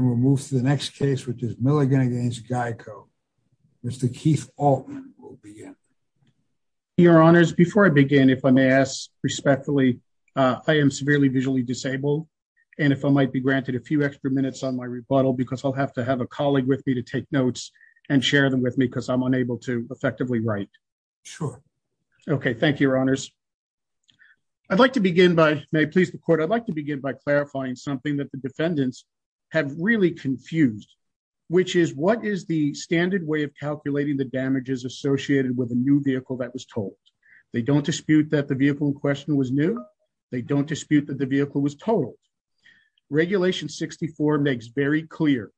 and we'll move to the next case which is Milligan v. GEICO. Mr. Keith Altman will begin. Your Honors, before I begin, if I may ask respectfully, I am severely visually disabled and if I might be granted a few extra minutes on my rebuttal because I'll have to have a colleague with me to take notes and share them with me because I'm unable to effectively write. Sure. Okay, thank you, Your Honors. I'd like to begin by, may I please the Court, I'd like confused which is what is the standard way of calculating the damages associated with a new vehicle that was told? They don't dispute that the vehicle in question was new. They don't dispute that the vehicle was totaled. Regulation 64 makes very clear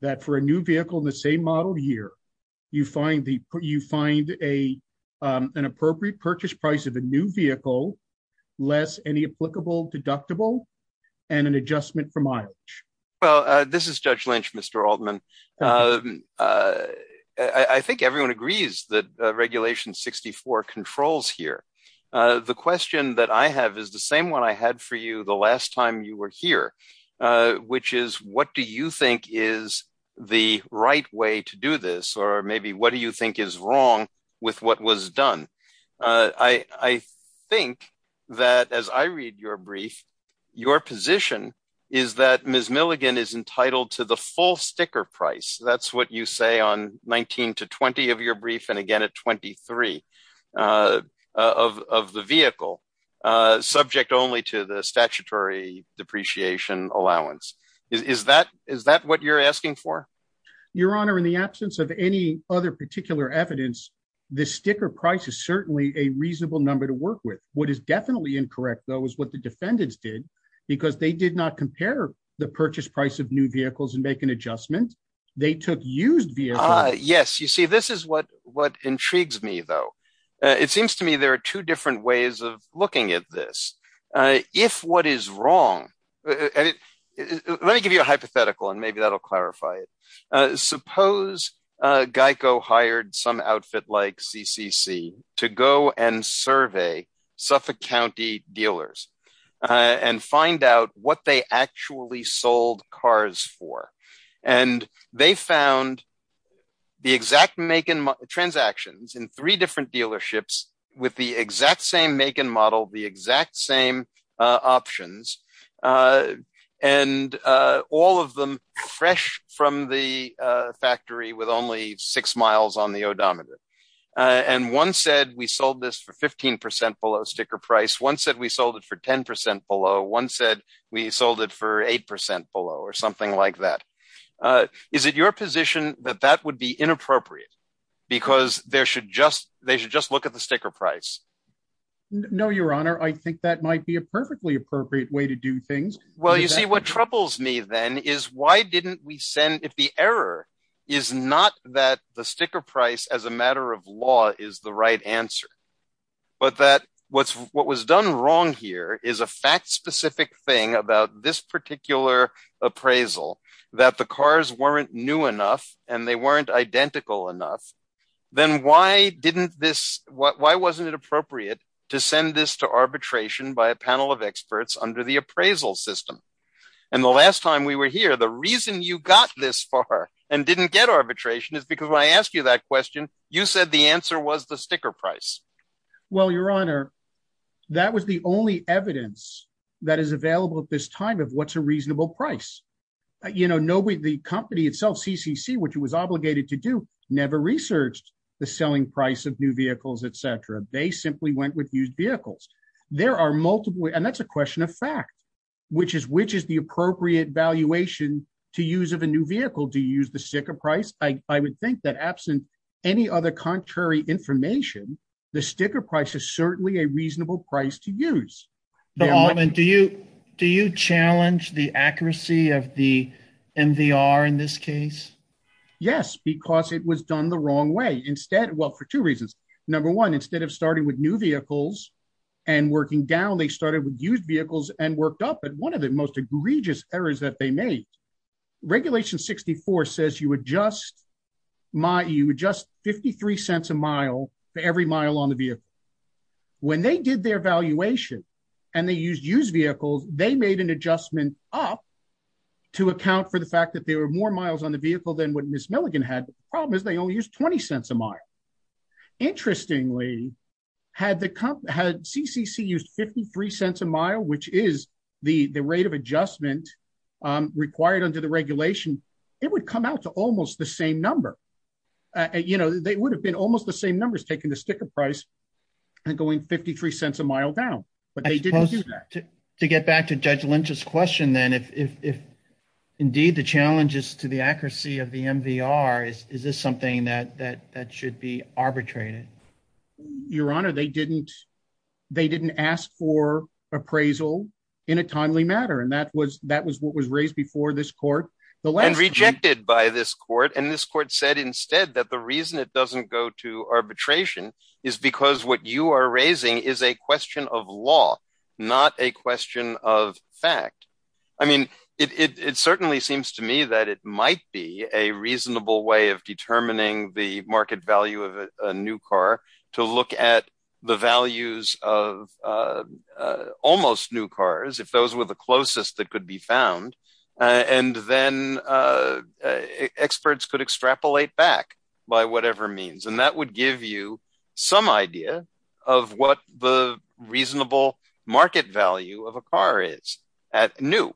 that for a new vehicle in the same model year, you find an appropriate purchase price of a new vehicle less any applicable deductible and an adjustment from mileage. Well, this is Judge Lynch, Mr. Altman. I think everyone agrees that Regulation 64 controls here. The question that I have is the same one I had for you the last time you were here, which is what do you think is the right way to do this or maybe what do you think is wrong with what was done? I think that as I read your brief, your position is that Ms. Milligan is entitled to the full sticker price. That's what you say on 19 to 20 of your brief and again at 23 of the vehicle subject only to the statutory depreciation allowance. Is that what you're asking for? Your Honor, in the absence of any other particular evidence, the sticker price is certainly a reasonable number to work with. What is definitely incorrect, though, is what the defendants did because they did not compare the purchase price of new vehicles and make an adjustment. They took used vehicles. Yes, you see, this is what what intrigues me, though. It seems to me there are two different ways of looking at this. If what is wrong, let me give you a hypothetical and maybe that'll clarify it. Suppose Geico hired some outfit like CCC to go and survey Suffolk County dealers and find out what they actually sold cars for. And they found the exact make and transactions in three different dealerships with the exact same make and model, the exact same options. And all of them fresh from the factory with only six miles on the odometer. And one said we sold this for 15% below sticker price. One said we sold it for 10% below. One said we sold it for 8% below or something like that. Is it your position that that would be inappropriate because there should just they should just look at the sticker price? No, your honor, I think that might be a perfectly appropriate way to do things. Well, you see, what troubles me then is why didn't we send if the error is not that the sticker price as a matter of law is the right answer, but that what's what was done wrong here is a fact specific thing about this particular appraisal that the cars weren't new enough and they weren't identical enough, then why didn't this why wasn't it appropriate to send this to arbitration by a panel of experts under the appraisal system? And the last time we were here, the reason you got this far and didn't get arbitration is because when I asked you that question, you said the answer was the sticker price. Well, your honor, that was the only evidence that is available at this time of what's a reasonable price. You know, nobody, the company itself, CCC, which it was obligated to do, never researched the selling price of new vehicles, et cetera. They simply went with used vehicles. There are multiple. And that's a question of fact, which is which is the appropriate valuation to use of a new vehicle to use the sticker price? I would think that absent any other contrary information, the sticker price is certainly a reasonable price to use. But do you do you challenge the accuracy of the MVR in this case? Yes, because it was done the wrong way instead. Well, for two reasons. Number one, instead of starting with new vehicles and working down, they started with used vehicles and worked up at one of the most egregious errors that they made. Regulation 64 says you adjust my you adjust fifty three cents a mile for every mile on the vehicle. When they did their valuation and they used used vehicles, they made an adjustment up to account for the fact that they were more miles on the vehicle than what Miss Milligan had. The problem is they only used 20 cents a mile. Interestingly, had the had CCC used fifty three cents a mile, which is the rate of adjustment required under the regulation, it would come out to almost the same number. You know, they would have been almost the same numbers taking the sticker price and going fifty three cents a mile down. But they didn't do that. To get back to Judge Lynch's question, then, if indeed the challenges to the accuracy of the MVR, is this something that that that should be arbitrated? Your Honor, they didn't they didn't ask for appraisal in a timely manner. And that was that was what was raised before this court and rejected by this court. And this court said instead that the reason it doesn't go to arbitration is because what you are raising is a question of law, not a question of fact. I mean, it certainly seems to me that it might be a reasonable way of determining the market value of a new car to look at the values of almost new cars, if those were the closest that could be found. And then experts could extrapolate back by whatever means. And that would give you some idea of what the reasonable market value of a car is at new.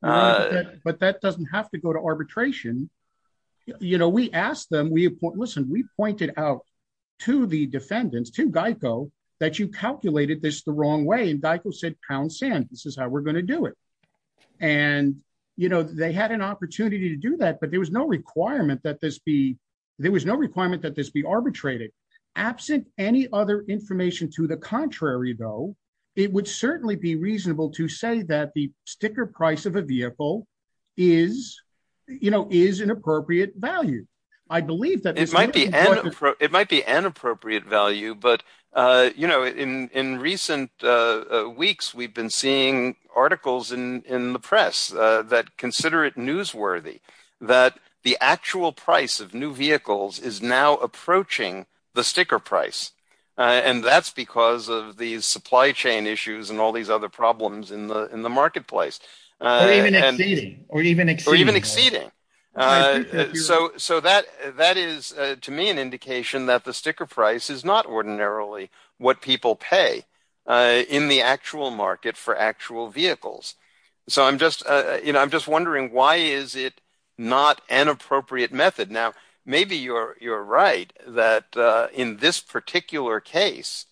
But that doesn't have to go to arbitration. You know, we asked them, we listen, we pointed out to the defendants, to Geico, that you calculated this the wrong way. And Geico said pound sand, this is how we're going to do it. And, you know, they had an opportunity to do that. But there was no requirement that this be there was no requirement that this be arbitrated. Absent any other information to the contrary, though, it would certainly be reasonable to say that the sticker price of a vehicle is, you know, is an appropriate value. I believe that it might be an appropriate value. But, you know, in in recent weeks, we've been seeing articles in the press that consider it newsworthy, that the actual price of new vehicles is now approaching the sticker price. And that's because of the supply chain issues and all these other in the marketplace. Or even exceeding. So that that is to me an indication that the sticker price is not ordinarily what people pay in the actual market for actual vehicles. So I'm just, you know, I'm just wondering, why is it not an appropriate method? Now, maybe you're right, that in this particular case,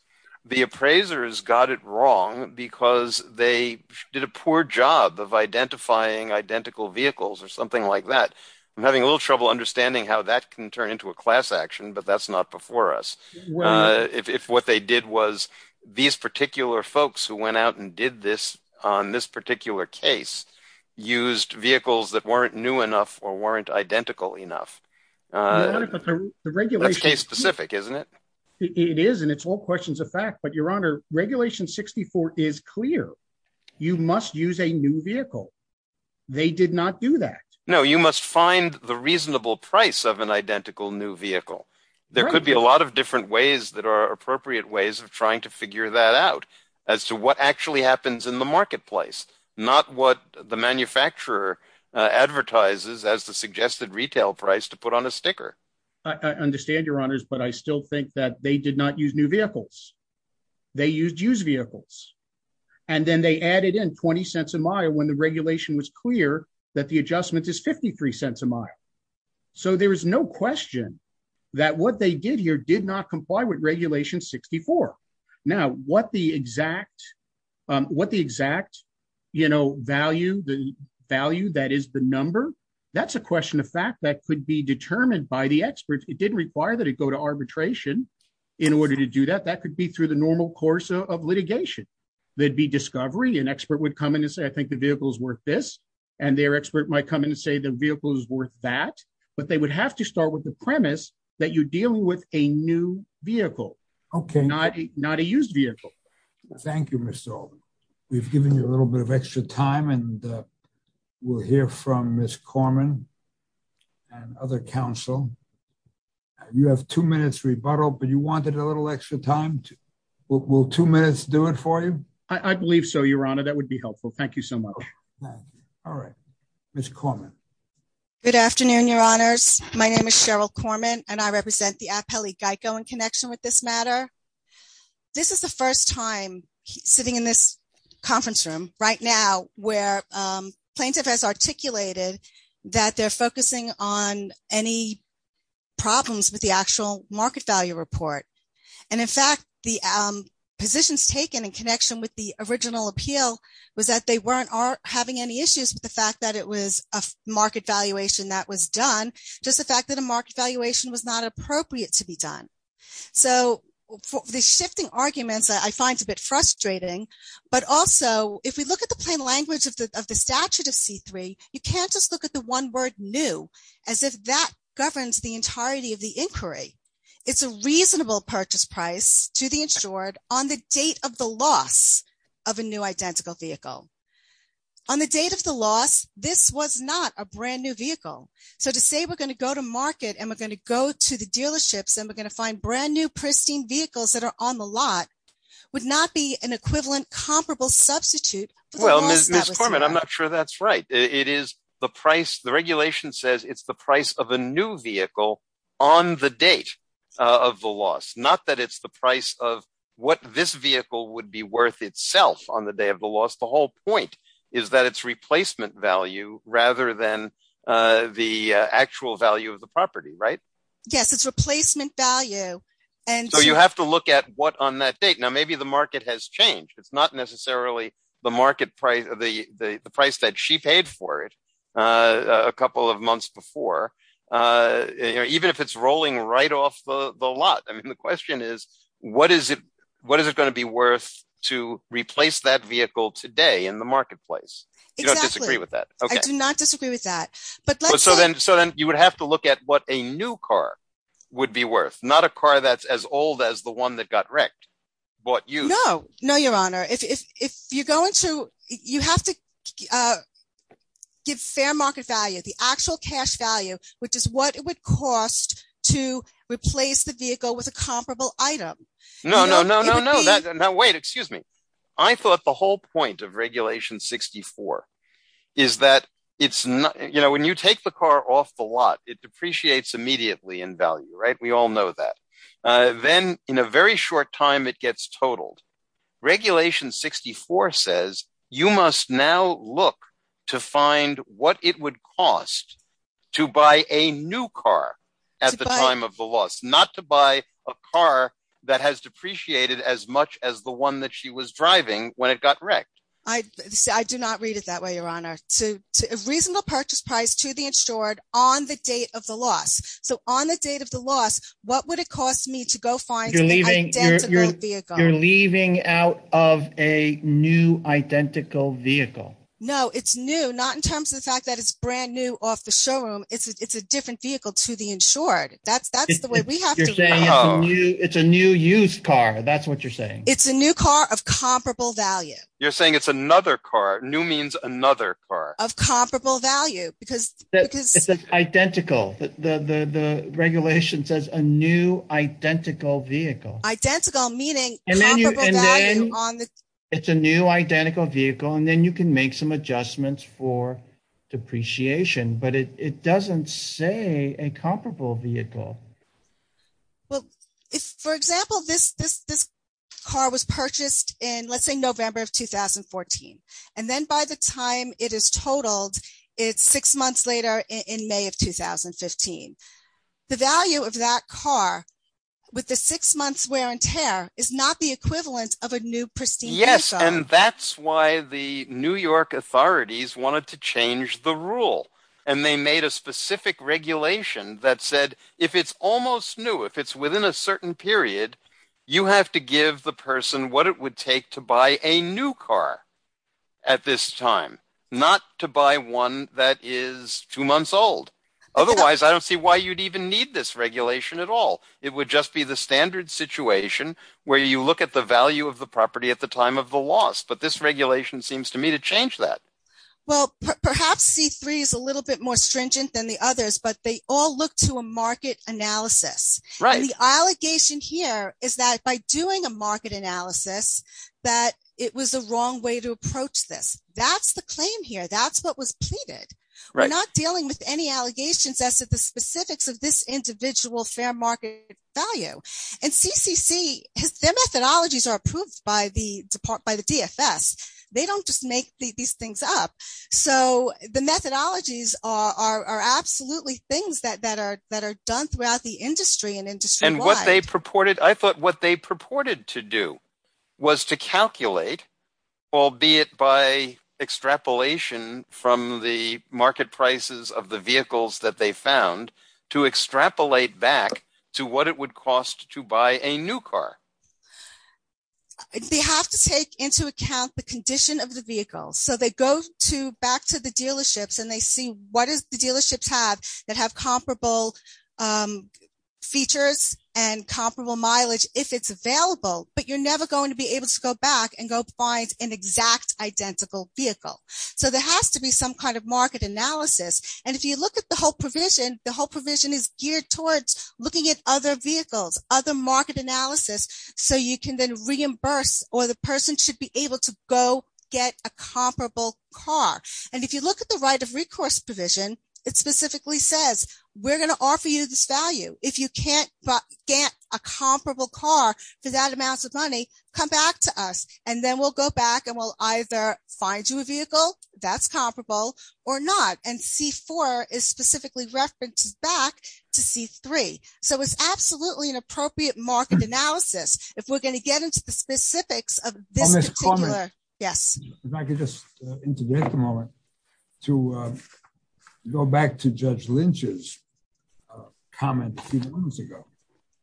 the appraisers got it wrong, because they did a poor job of identifying identical vehicles or something like that. I'm having a little trouble understanding how that can turn into a class action. But that's not before us. If what they did was, these particular folks who went out and did this, on this particular case, used vehicles that weren't new enough, or weren't identical enough. That's case specific, isn't it? It is. And it's all questions of fact. But Your Honor, Regulation 64 is clear. You must use a new vehicle. They did not do that. No, you must find the reasonable price of an identical new vehicle. There could be a lot of different ways that are appropriate ways of trying to figure that out, as to what actually happens in the marketplace, not what the manufacturer advertises as the suggested retail price to put on a sticker. I understand, Your Honors, but I still think that they did not use new vehicles. They used used vehicles. And then they added in 20 cents a mile when the regulation was clear that the adjustment is 53 cents a mile. So there is no question that what they did here did not value the value that is the number. That's a question of fact that could be determined by the experts. It didn't require that it go to arbitration in order to do that. That could be through the normal course of litigation. There'd be discovery. An expert would come in and say, I think the vehicle is worth this. And their expert might come in and say the vehicle is worth that. But they would have to start with the premise that you're dealing with a new vehicle, not a used vehicle. Thank you, Mr. Alden. We've given you a little bit of extra time and we'll hear from Ms. Corman and other counsel. You have two minutes rebuttal, but you wanted a little extra time. Will two minutes do it for you? I believe so, Your Honor. That would be helpful. Thank you so much. All right. Ms. Corman. Good afternoon, Your Honors. My name is Cheryl Corman, and I represent the Appellate Geico in connection with this matter. This is the first time sitting in this conference room right now where plaintiff has articulated that they're focusing on any problems with the actual market value report. And in fact, the positions taken in connection with the original appeal was that they weren't having any issues with the fact that it was a market valuation that was done. Just the fact that a market valuation was not appropriate to be done. So the shifting arguments I find a bit frustrating. But also, if we look at the plain language of the statute of C-3, you can't just look at the one word new as if that governs the entirety of the inquiry. It's a reasonable purchase price to the insured on the date of the loss of a new identical vehicle. On the date of the loss, this was not a going to go to the dealerships and we're going to find brand new pristine vehicles that are on the lot would not be an equivalent comparable substitute. Well, Ms. Corman, I'm not sure that's right. It is the price. The regulation says it's the price of a new vehicle on the date of the loss, not that it's the price of what this vehicle would be worth itself on the day of the loss. The whole Yes, it's replacement value. And so you have to look at what on that date. Now, maybe the market has changed. It's not necessarily the market price of the price that she paid for it a couple of months before, even if it's rolling right off the lot. I mean, the question is, what is it? What is it going to be worth to replace that vehicle today in the marketplace? Exactly. I disagree with that. I do not disagree with that. But so then so then you would have to look at what a new car would be worth, not a car that's as old as the one that got wrecked. But you know, no, your honor, if you're going to you have to give fair market value, the actual cash value, which is what it would cost to replace the vehicle with a comparable item. No, no, no, no, no, no, no. Wait, excuse me. I thought the whole point of regulation 64 is that it's you know, when you take the car off the lot, it depreciates immediately in value. Right. We all know that. Then in a very short time, it gets totaled. Regulation 64 says you must now look to find what it would cost to buy a new car at the time of the loss, not to buy a car that has depreciated as much as the one that she was driving when it got wrecked. I do not read it that way, your honor, to a reasonable purchase price to the insured on the date of the loss. So on the date of the loss, what would it cost me to go find you're leaving out of a new identical vehicle? No, it's new, not in terms of the fact that it's brand new off the showroom. It's a different vehicle to the insured. That's that's the way we have to say it's a new used car. That's what you're saying. It's a new car of comparable value. You're saying it's another car. New means another car of comparable value because that is identical. The regulation says a new identical vehicle, identical, meaning it's a new identical vehicle. And then you can make some adjustments for depreciation. But it doesn't say a comparable vehicle. Well, if, for example, this this this car was purchased in, let's say, November of 2014, and then by the time it is totaled, it's six months later in May of 2015. The value of that car with the six months wear and tear is not the equivalent of a new pristine. Yes. And that's why the New York authorities wanted to change the rule. And they made a specific regulation that said if it's almost new, if it's within a certain period, you have to give the person what it would take to buy a new car at this time, not to buy one that is two months old. Otherwise, I don't see why you'd even need this regulation at all. It would just be the standard situation where you look at the value of the property at the time of the loss. But this regulation seems to me to change that. Well, perhaps C3 is a little bit more stringent than the others, but they all look to a market analysis. Right. The allegation here is that by doing a market analysis, that it was the wrong way to approach this. That's the claim here. That's what was pleaded. We're not dealing with any allegations as to the specifics of this individual fair market value. And CCC, their methodologies are approved by the DFS. They don't just make these things up. So the methodologies are absolutely things that are done throughout the industry. And what they purported, I thought what they purported to do was to calculate, albeit by extrapolation from the market prices of the vehicles that they found, to extrapolate back to what it would cost to buy a new car. They have to take into account the condition of the vehicle. So they go to back to the dealerships and they see what is the dealerships have that have comparable features and comparable mileage if it's available, but you're never going to be able to go back and go find an exact identical vehicle. So there has to be some kind of market analysis. And if you look at the whole provision, the whole provision is geared towards looking at other vehicles, other market analysis, so you can then reimburse or the person should be able to go get a comparable car. And if you look at the right of recourse provision, it specifically says, we're going to offer you this value. If you can't get a comparable car for that amounts of money, come back to us, and then we'll go back and we'll either find you a vehicle that's comparable or not. And C4 is specifically referenced back to C3. So it's absolutely an appropriate market analysis. If we're going to get into the specifics of this particular, yes. If I could just integrate the moment to go back to Judge Lynch's comment a few moments ago,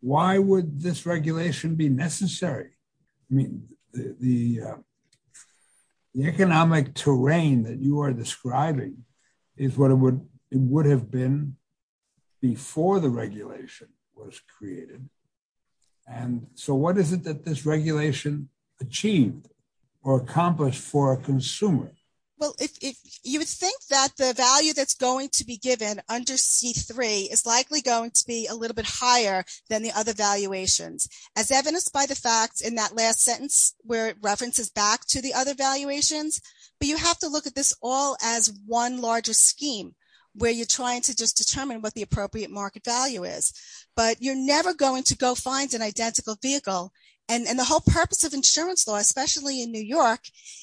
why would this regulation be necessary? I mean, the economic terrain that you are describing is what it would have been before the regulation was created. And so what is it that this regulation achieved or accomplished for a consumer? Well, if you would think that the value that's going to be given under C3 is likely going to be a little bit higher than the other valuations, as evidenced by the fact in that last sentence, where it references back to the other valuations. But you have to look at this all as one larger scheme, where you're trying to just determine what the appropriate market value is. But you're never going to go find an identical vehicle. And the whole purpose of insurance law, especially in New York,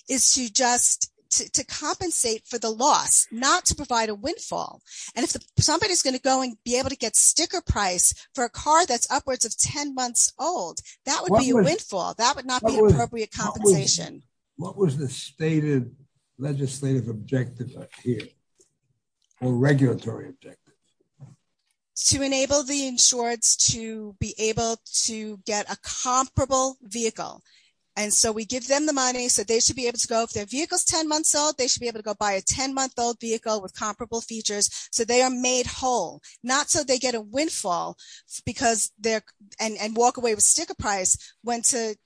is to just to compensate for the loss, not to provide a windfall. And if somebody is going to go and be able to get sticker price for a car that's upwards of 10 months old, that would be a windfall, that would not be appropriate compensation. What was the stated legislative objective here? Or regulatory objective? To enable the insureds to be able to get a comparable vehicle. And so we give them the money so they should be able to go if their vehicle is 10 months old, they should be able to go buy a 10 month old vehicle with comparable features. So they are made whole, not so they get windfall, because they're and walk away with sticker price, when to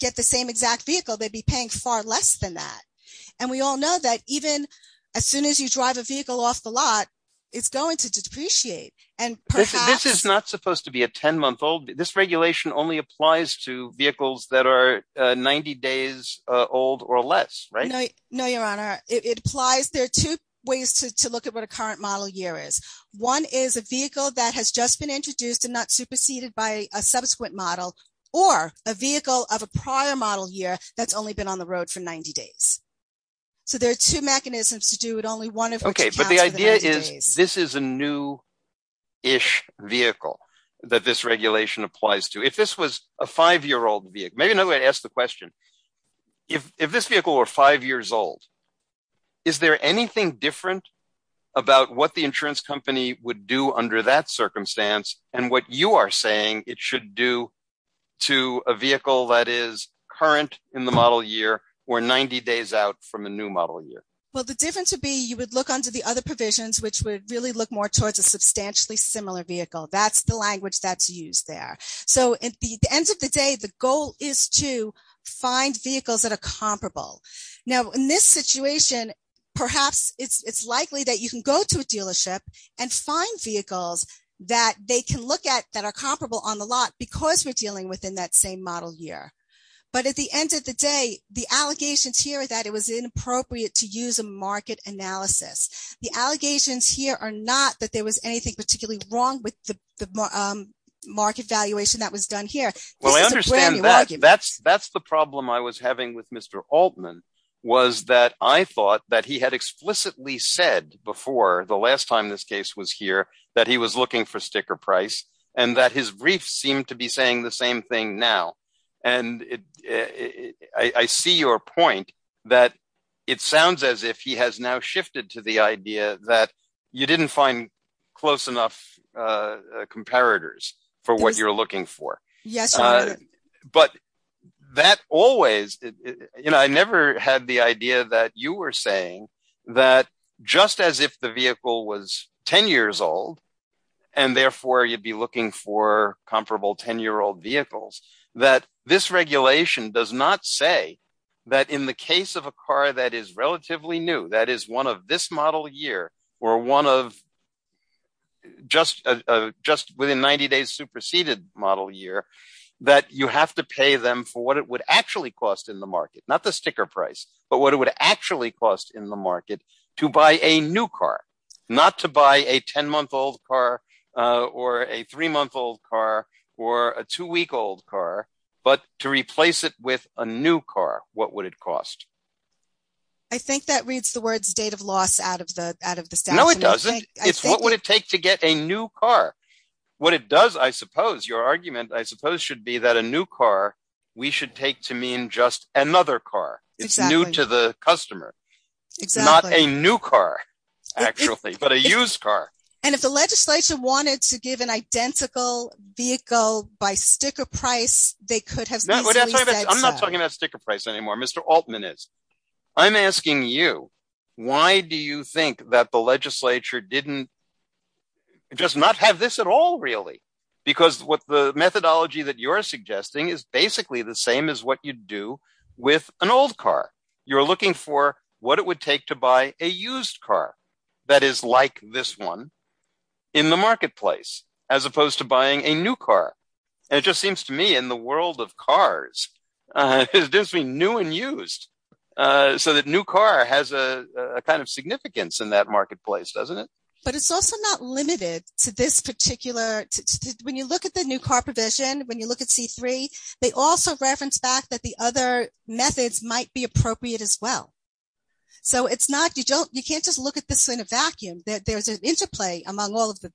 get the same exact vehicle, they'd be paying far less than that. And we all know that even as soon as you drive a vehicle off the lot, it's going to depreciate. And this is not supposed to be a 10 month old, this regulation only applies to vehicles that are 90 days old or less, right? No, Your Honor, it applies. There are two ways to look at what a current model year is. One is a vehicle that has just been introduced and not superseded by a subsequent model, or a vehicle of a prior model year that's only been on the road for 90 days. So there are two mechanisms to do it, only one of them. Okay, but the idea is, this is a new-ish vehicle that this regulation applies to. If this was a five year old vehicle, maybe another way to ask the question, if this vehicle were five years old, is there anything different about what the insurance company would do under that circumstance, and what you are saying it should do to a vehicle that is current in the model year, or 90 days out from a new model year? Well, the difference would be you would look under the other provisions, which would really look more towards a substantially similar vehicle. That's the language that's used there. So at the end of the day, the goal is to find vehicles that are comparable. Now, in this situation, perhaps it's likely that you can go to a dealership and find vehicles that they can look at that are comparable on the lot, because we're dealing within that same model year. But at the end of the day, the allegations here are that it was inappropriate to use a market analysis. The allegations here are not that there was anything particularly wrong with the market valuation that was done here. Well, I understand that. That's the problem I was having with Mr. Altman, was that I thought that he had explicitly said before, the last time this case was here, that he was looking for sticker price, and that his brief seemed to be saying the same thing now. And I see your point that it sounds as if he has now shifted to the idea that you didn't find close enough comparators for what you're looking for. Yes. But that always, you know, I never had the idea that you were saying that just as if the vehicle was 10 years old, and therefore you'd be looking for comparable 10 year old vehicles, that this regulation does not say that in the case of a car that is relatively new, that is one of this model year, or one of just within 90 days superseded model year, that you have to pay them for what it would actually cost in the market, not the sticker price, but what it would actually cost in the market to buy a new car, not to buy a 10 month old car, or a three month old car, or a two week old car, but to replace it with a new car, what would it cost? I think that reads the words date of loss out of the out of the No, it doesn't. It's what would it take to get a new car? What it does, I suppose your argument, I suppose should be that a new car, we should take to mean just another car. It's new to the customer. It's not a new car, actually, but a used car. And if the legislature wanted to give an identical vehicle by sticker price, they could have I'm not talking about sticker price anymore, Mr. Altman is. I'm asking you, why do you think that the legislature didn't just not have this at all, really? Because what the methodology that you're suggesting is basically the same as what you do with an old car, you're looking for what it would to buy a used car that is like this one in the marketplace, as opposed to buying a new car. And it just seems to me in the world of cars, it's just being new and used. So that new car has a kind of significance in that marketplace, doesn't it? But it's also not limited to this particular, when you look at the new car provision, when you look at C3, they also reference back that the other methods might be appropriate as well. So it's not, you can't just look at this in a vacuum, there's an interplay among all of the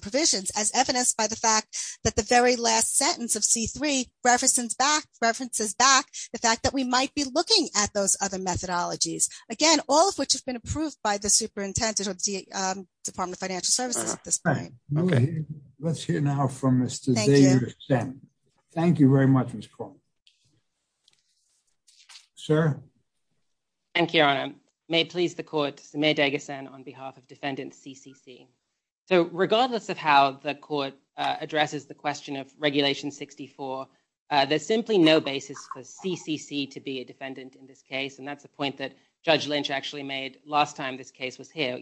provisions as evidenced by the fact that the very last sentence of C3 references back the fact that we might be looking at those other methodologies, again, all of which have been approved by the superintendent of the Department of Financial Services at this point. Let's hear now from Mr. Zayud Hussain. Thank you very much, Ms. Paul. Thank you, Your Honor. May it please the court, Samir Deghasan on behalf of defendant CCC. So regardless of how the court addresses the question of Regulation 64, there's simply no basis for CCC to be a defendant in this case. And that's the point that Judge Lynch actually made last time this case was here.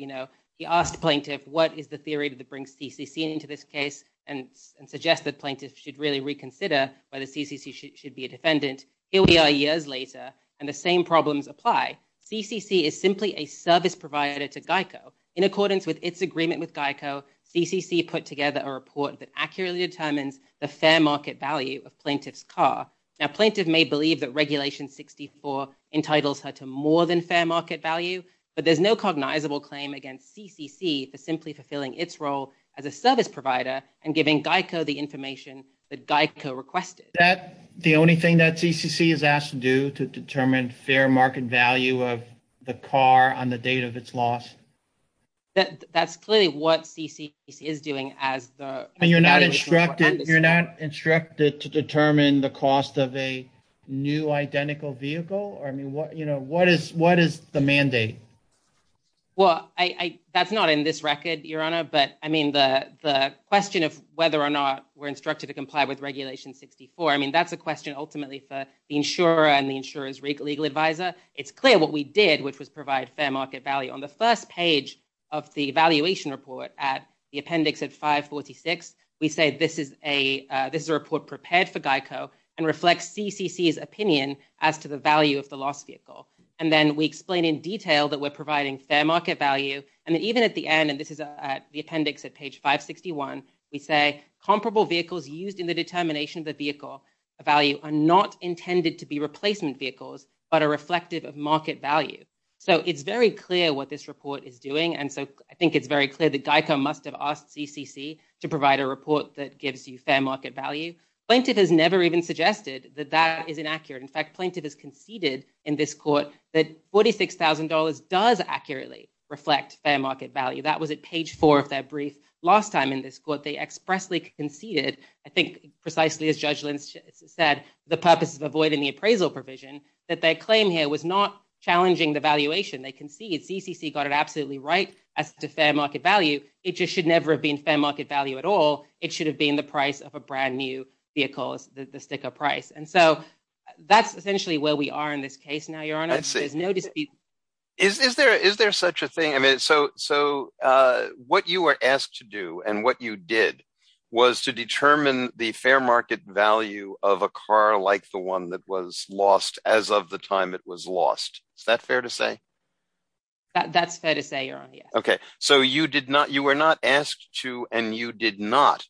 He asked plaintiff, what is the theory that brings CCC into this case and suggests that plaintiff should really reconsider whether CCC should be a defendant. Here we are years later, and the same problems apply. CCC is simply a service provider to GEICO. In accordance with its agreement with GEICO, CCC put together a report that accurately determines the fair market value of plaintiff's car. Now, plaintiff may believe that Regulation 64 entitles her to more than fair market value, but there's no cognizable claim against CCC for simply fulfilling its role as a service provider and giving GEICO the information that GEICO requested. That the only thing that CCC is asked to do to determine fair market value of the car on the date of its loss? That's clearly what CCC is doing as the... And you're not instructed to determine the cost of a new identical vehicle? I mean, what is the mandate? Well, that's not in this record, Your Honor, but I mean, the question of whether or not we're instructed to comply with Regulation 64, I mean, that's a question ultimately for the insurer and the insurer's legal advisor. It's clear what we did, which was provide fair market value. On the first page of the valuation report at the appendix at 546, we say this is a opinion as to the value of the lost vehicle. And then we explain in detail that we're providing fair market value. And then even at the end, and this is at the appendix at page 561, we say comparable vehicles used in the determination of the vehicle value are not intended to be replacement vehicles, but are reflective of market value. So it's very clear what this report is doing. And so I think it's very clear that GEICO must have asked CCC to provide a report that is inaccurate. In fact, plaintiff has conceded in this court that $46,000 does accurately reflect fair market value. That was at page four of their brief last time in this court. They expressly conceded, I think precisely as Judge Lynch said, the purpose of avoiding the appraisal provision, that their claim here was not challenging the valuation. They concede CCC got it absolutely right as to fair market value. It just should never have been fair market value at all. It should have been the price of a brand new vehicle, the sticker price. And so that's essentially where we are in this case now, Your Honor. There's no dispute. Is there such a thing? So what you were asked to do and what you did was to determine the fair market value of a car like the one that was lost as of the time it was lost. Is that fair to say? That's fair to say, Your Honor, yes. So you were not asked to and you did not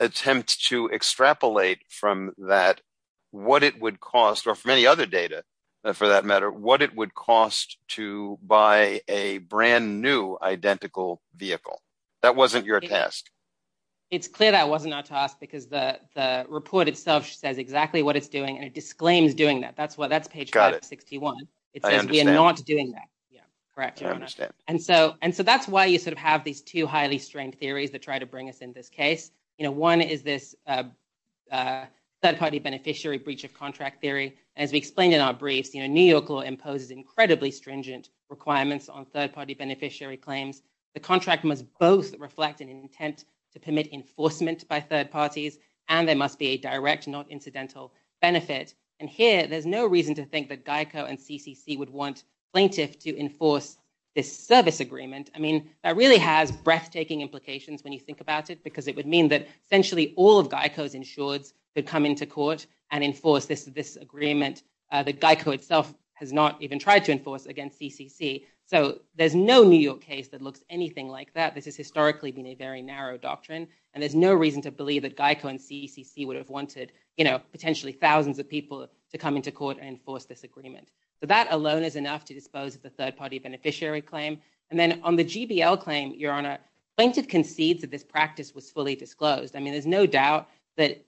attempt to extrapolate from that what it would cost, or from any other data for that matter, what it would cost to buy a brand new identical vehicle. That wasn't your task. It's clear that wasn't our task because the report itself says exactly what it's doing and it disclaims doing that. That's page 561. It says we are not doing that. Correct, Your Honor. And so that's why you sort of have these two highly strained theories that try to bring us in this case. One is this third-party beneficiary breach of contract theory. As we explained in our briefs, New York law imposes incredibly stringent requirements on third-party beneficiary claims. The contract must both reflect an intent to permit enforcement by third parties and there must be a direct, not incidental benefit. And here, there's no reason to think that GEICO and CCC would want plaintiff to enforce this service agreement. I mean, that really has breathtaking implications when you think about it because it would mean that essentially all of GEICO's insureds could come into court and enforce this agreement that GEICO itself has not even tried to enforce against CCC. So there's no New York case that looks anything like that. This has historically been a very narrow doctrine and there's no reason to believe that GEICO and CCC would have wanted, you know, potentially thousands of people to come into court and enforce this agreement. So that alone is enough to dispose of the third-party beneficiary claim. And then on the GBL claim, Your Honor, plaintiff concedes that this practice was fully disclosed. I mean, there's no doubt that,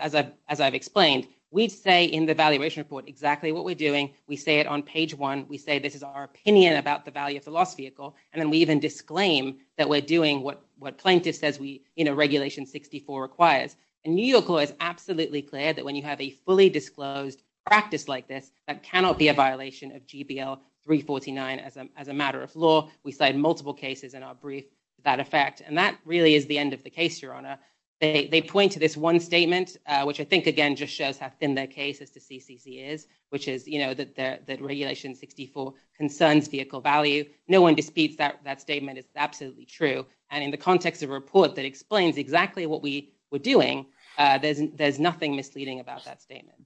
as I've explained, we'd say in the valuation report exactly what we're doing. We say it on page one. We say this is our opinion about the value of the loss vehicle and then we even disclaim that we're doing what plaintiff says Regulation 64 requires. And New York law is absolutely clear that when you have a fully disclosed practice like this, that cannot be a violation of GBL 349 as a matter of law. We cite multiple cases in our brief that affect. And that really is the end of the case, Your Honor. They point to this one statement, which I think again just shows how thin their case is to CCC is, which is, you know, that Regulation 64 concerns vehicle value. No one disputes that statement. It's absolutely true. And in the context of a report that explains exactly what we were doing, there's nothing misleading about that statement.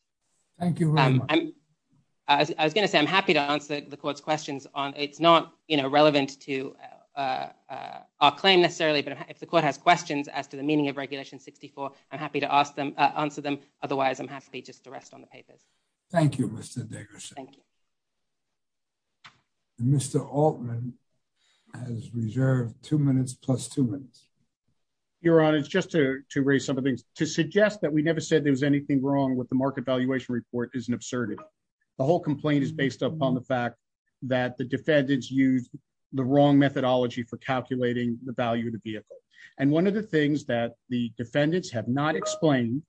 Thank you very much. I was going to say I'm happy to answer the Court's questions. It's not, you know, relevant to our claim necessarily, but if the Court has questions as to the meaning of Regulation 64, I'm happy to answer them. Otherwise, I'm happy just to rest on the papers. Thank you, Mr. Diggerson. Mr. Altman has reserved two minutes plus two minutes. Your Honor, just to raise some of the things, to suggest that we never said there was anything wrong with the market valuation report is an absurdity. The whole complaint is based upon the fact that the defendants used the wrong methodology for calculating the value of the vehicle. And one of the things that the defendants have not explained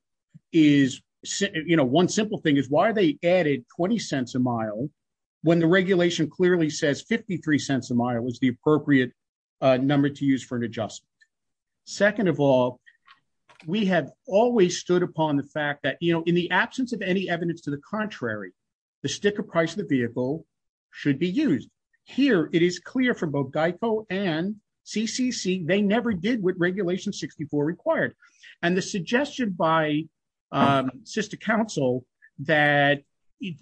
is, you know, one simple thing is why they added 20 cents a mile when the regulation clearly says 53 cents a mile was the appropriate number to use for an adjustment. Second of all, we have always stood upon the fact that, you know, in the absence of any evidence to the contrary, the sticker price of the vehicle should be used. Here, it is clear for both GEICO and CCC, they never did what Regulation 64 required. And the suggestion by sister counsel that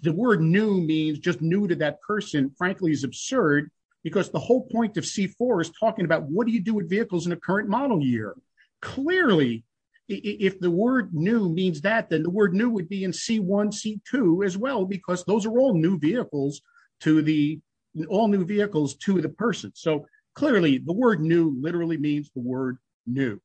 the word new means just new to that person, frankly, is absurd, because the whole point of C4 is talking about what do you do with vehicles in a current model year? Clearly, if the word new means that, then the word new would be in C1, C2 as well, because those are all new vehicles to the all new vehicles to the person. So clearly, the word new literally means the word new.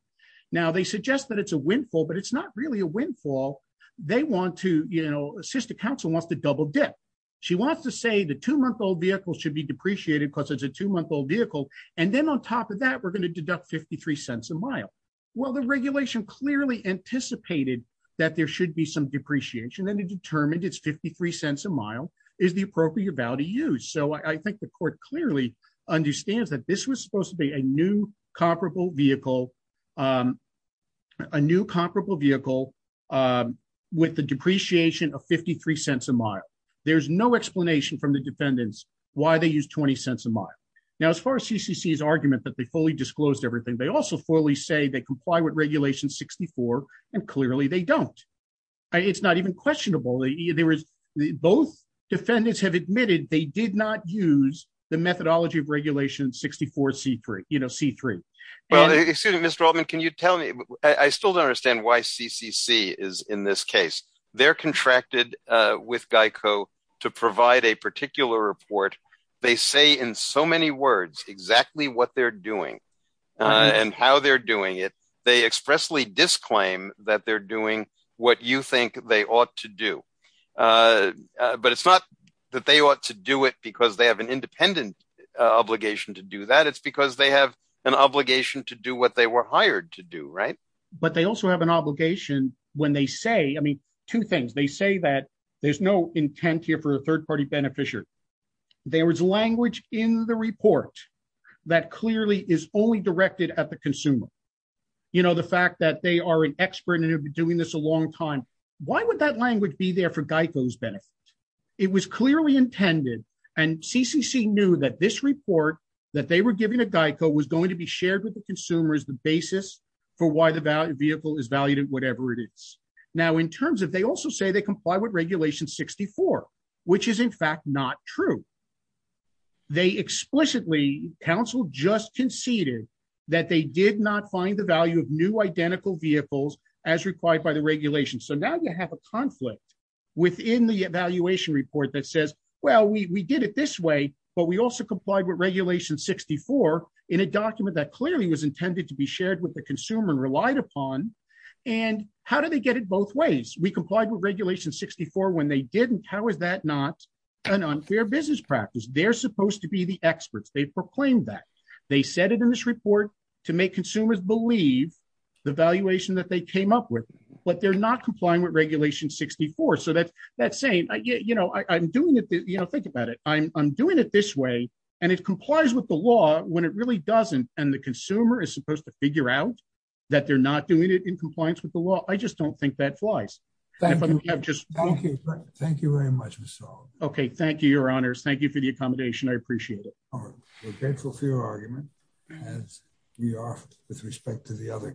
Now, they suggest that it's a windfall, but it's not really a windfall. They want to, you know, sister counsel wants to double dip, she wants to say the two month old vehicle should be depreciated because it's a two month old vehicle. And then on top of that, we're going to deduct 53 cents a mile. Well, the regulation clearly anticipated that there should be some depreciation and determined it's 53 cents a mile is the appropriate value to use. So I think the court clearly understands that this was supposed to be a new comparable vehicle, a new comparable vehicle with the depreciation of 53 cents a mile. There's no explanation from the defendants why they use 20 cents a mile. Now, as far as CCC's argument that they fully disclosed everything, they also fully say they comply with Regulation 64. And clearly, they don't. It's not even questionable. There was the both defendants have admitted they did not use the methodology of Regulation 64. C3, you know, C3. Well, excuse me, Mr. Altman, can you tell me, I still don't understand why CCC is in this case, they're contracted with GEICO to provide a particular report. They say in so many words, exactly what they're doing, and how they're doing it, they expressly disclaim that they're doing what you think they ought to do. But it's not that they ought to do it, because they have an independent obligation to do that. It's because they have an obligation to do what they were hired to do, right. But they also have an obligation when they say, I mean, two things, they say that there's no intent here for a third party beneficiary. There was language in the report that clearly is only directed at the consumer. You know, the fact that they are an expert and have been doing this a long time, why would that language be there for GEICO's benefit? It was clearly intended. And CCC knew that this report that they were giving to GEICO was going to be shared with the consumer as the basis for why the value vehicle is valued in whatever it is. Now, in terms of they also say comply with regulation 64, which is in fact not true. They explicitly counsel just conceded that they did not find the value of new identical vehicles as required by the regulation. So now you have a conflict within the evaluation report that says, well, we did it this way, but we also complied with regulation 64 in a document that clearly was intended to be shared with the consumer and relied upon. And how do they get it both ways? We complied with regulation 64 when they didn't. How is that not an unfair business practice? They're supposed to be the experts. They proclaimed that. They said it in this report to make consumers believe the valuation that they came up with, but they're not complying with regulation 64. So that's saying, you know, I'm doing it, you know, think about it. I'm doing it this way and it complies with the law when it doesn't. And the consumer is supposed to figure out that they're not doing it in compliance with the law. I just don't think that flies. Okay. Thank you very much. Okay. Thank you, your honors. Thank you for the accommodation. I appreciate it. We're grateful for your argument as we are with respect to the other.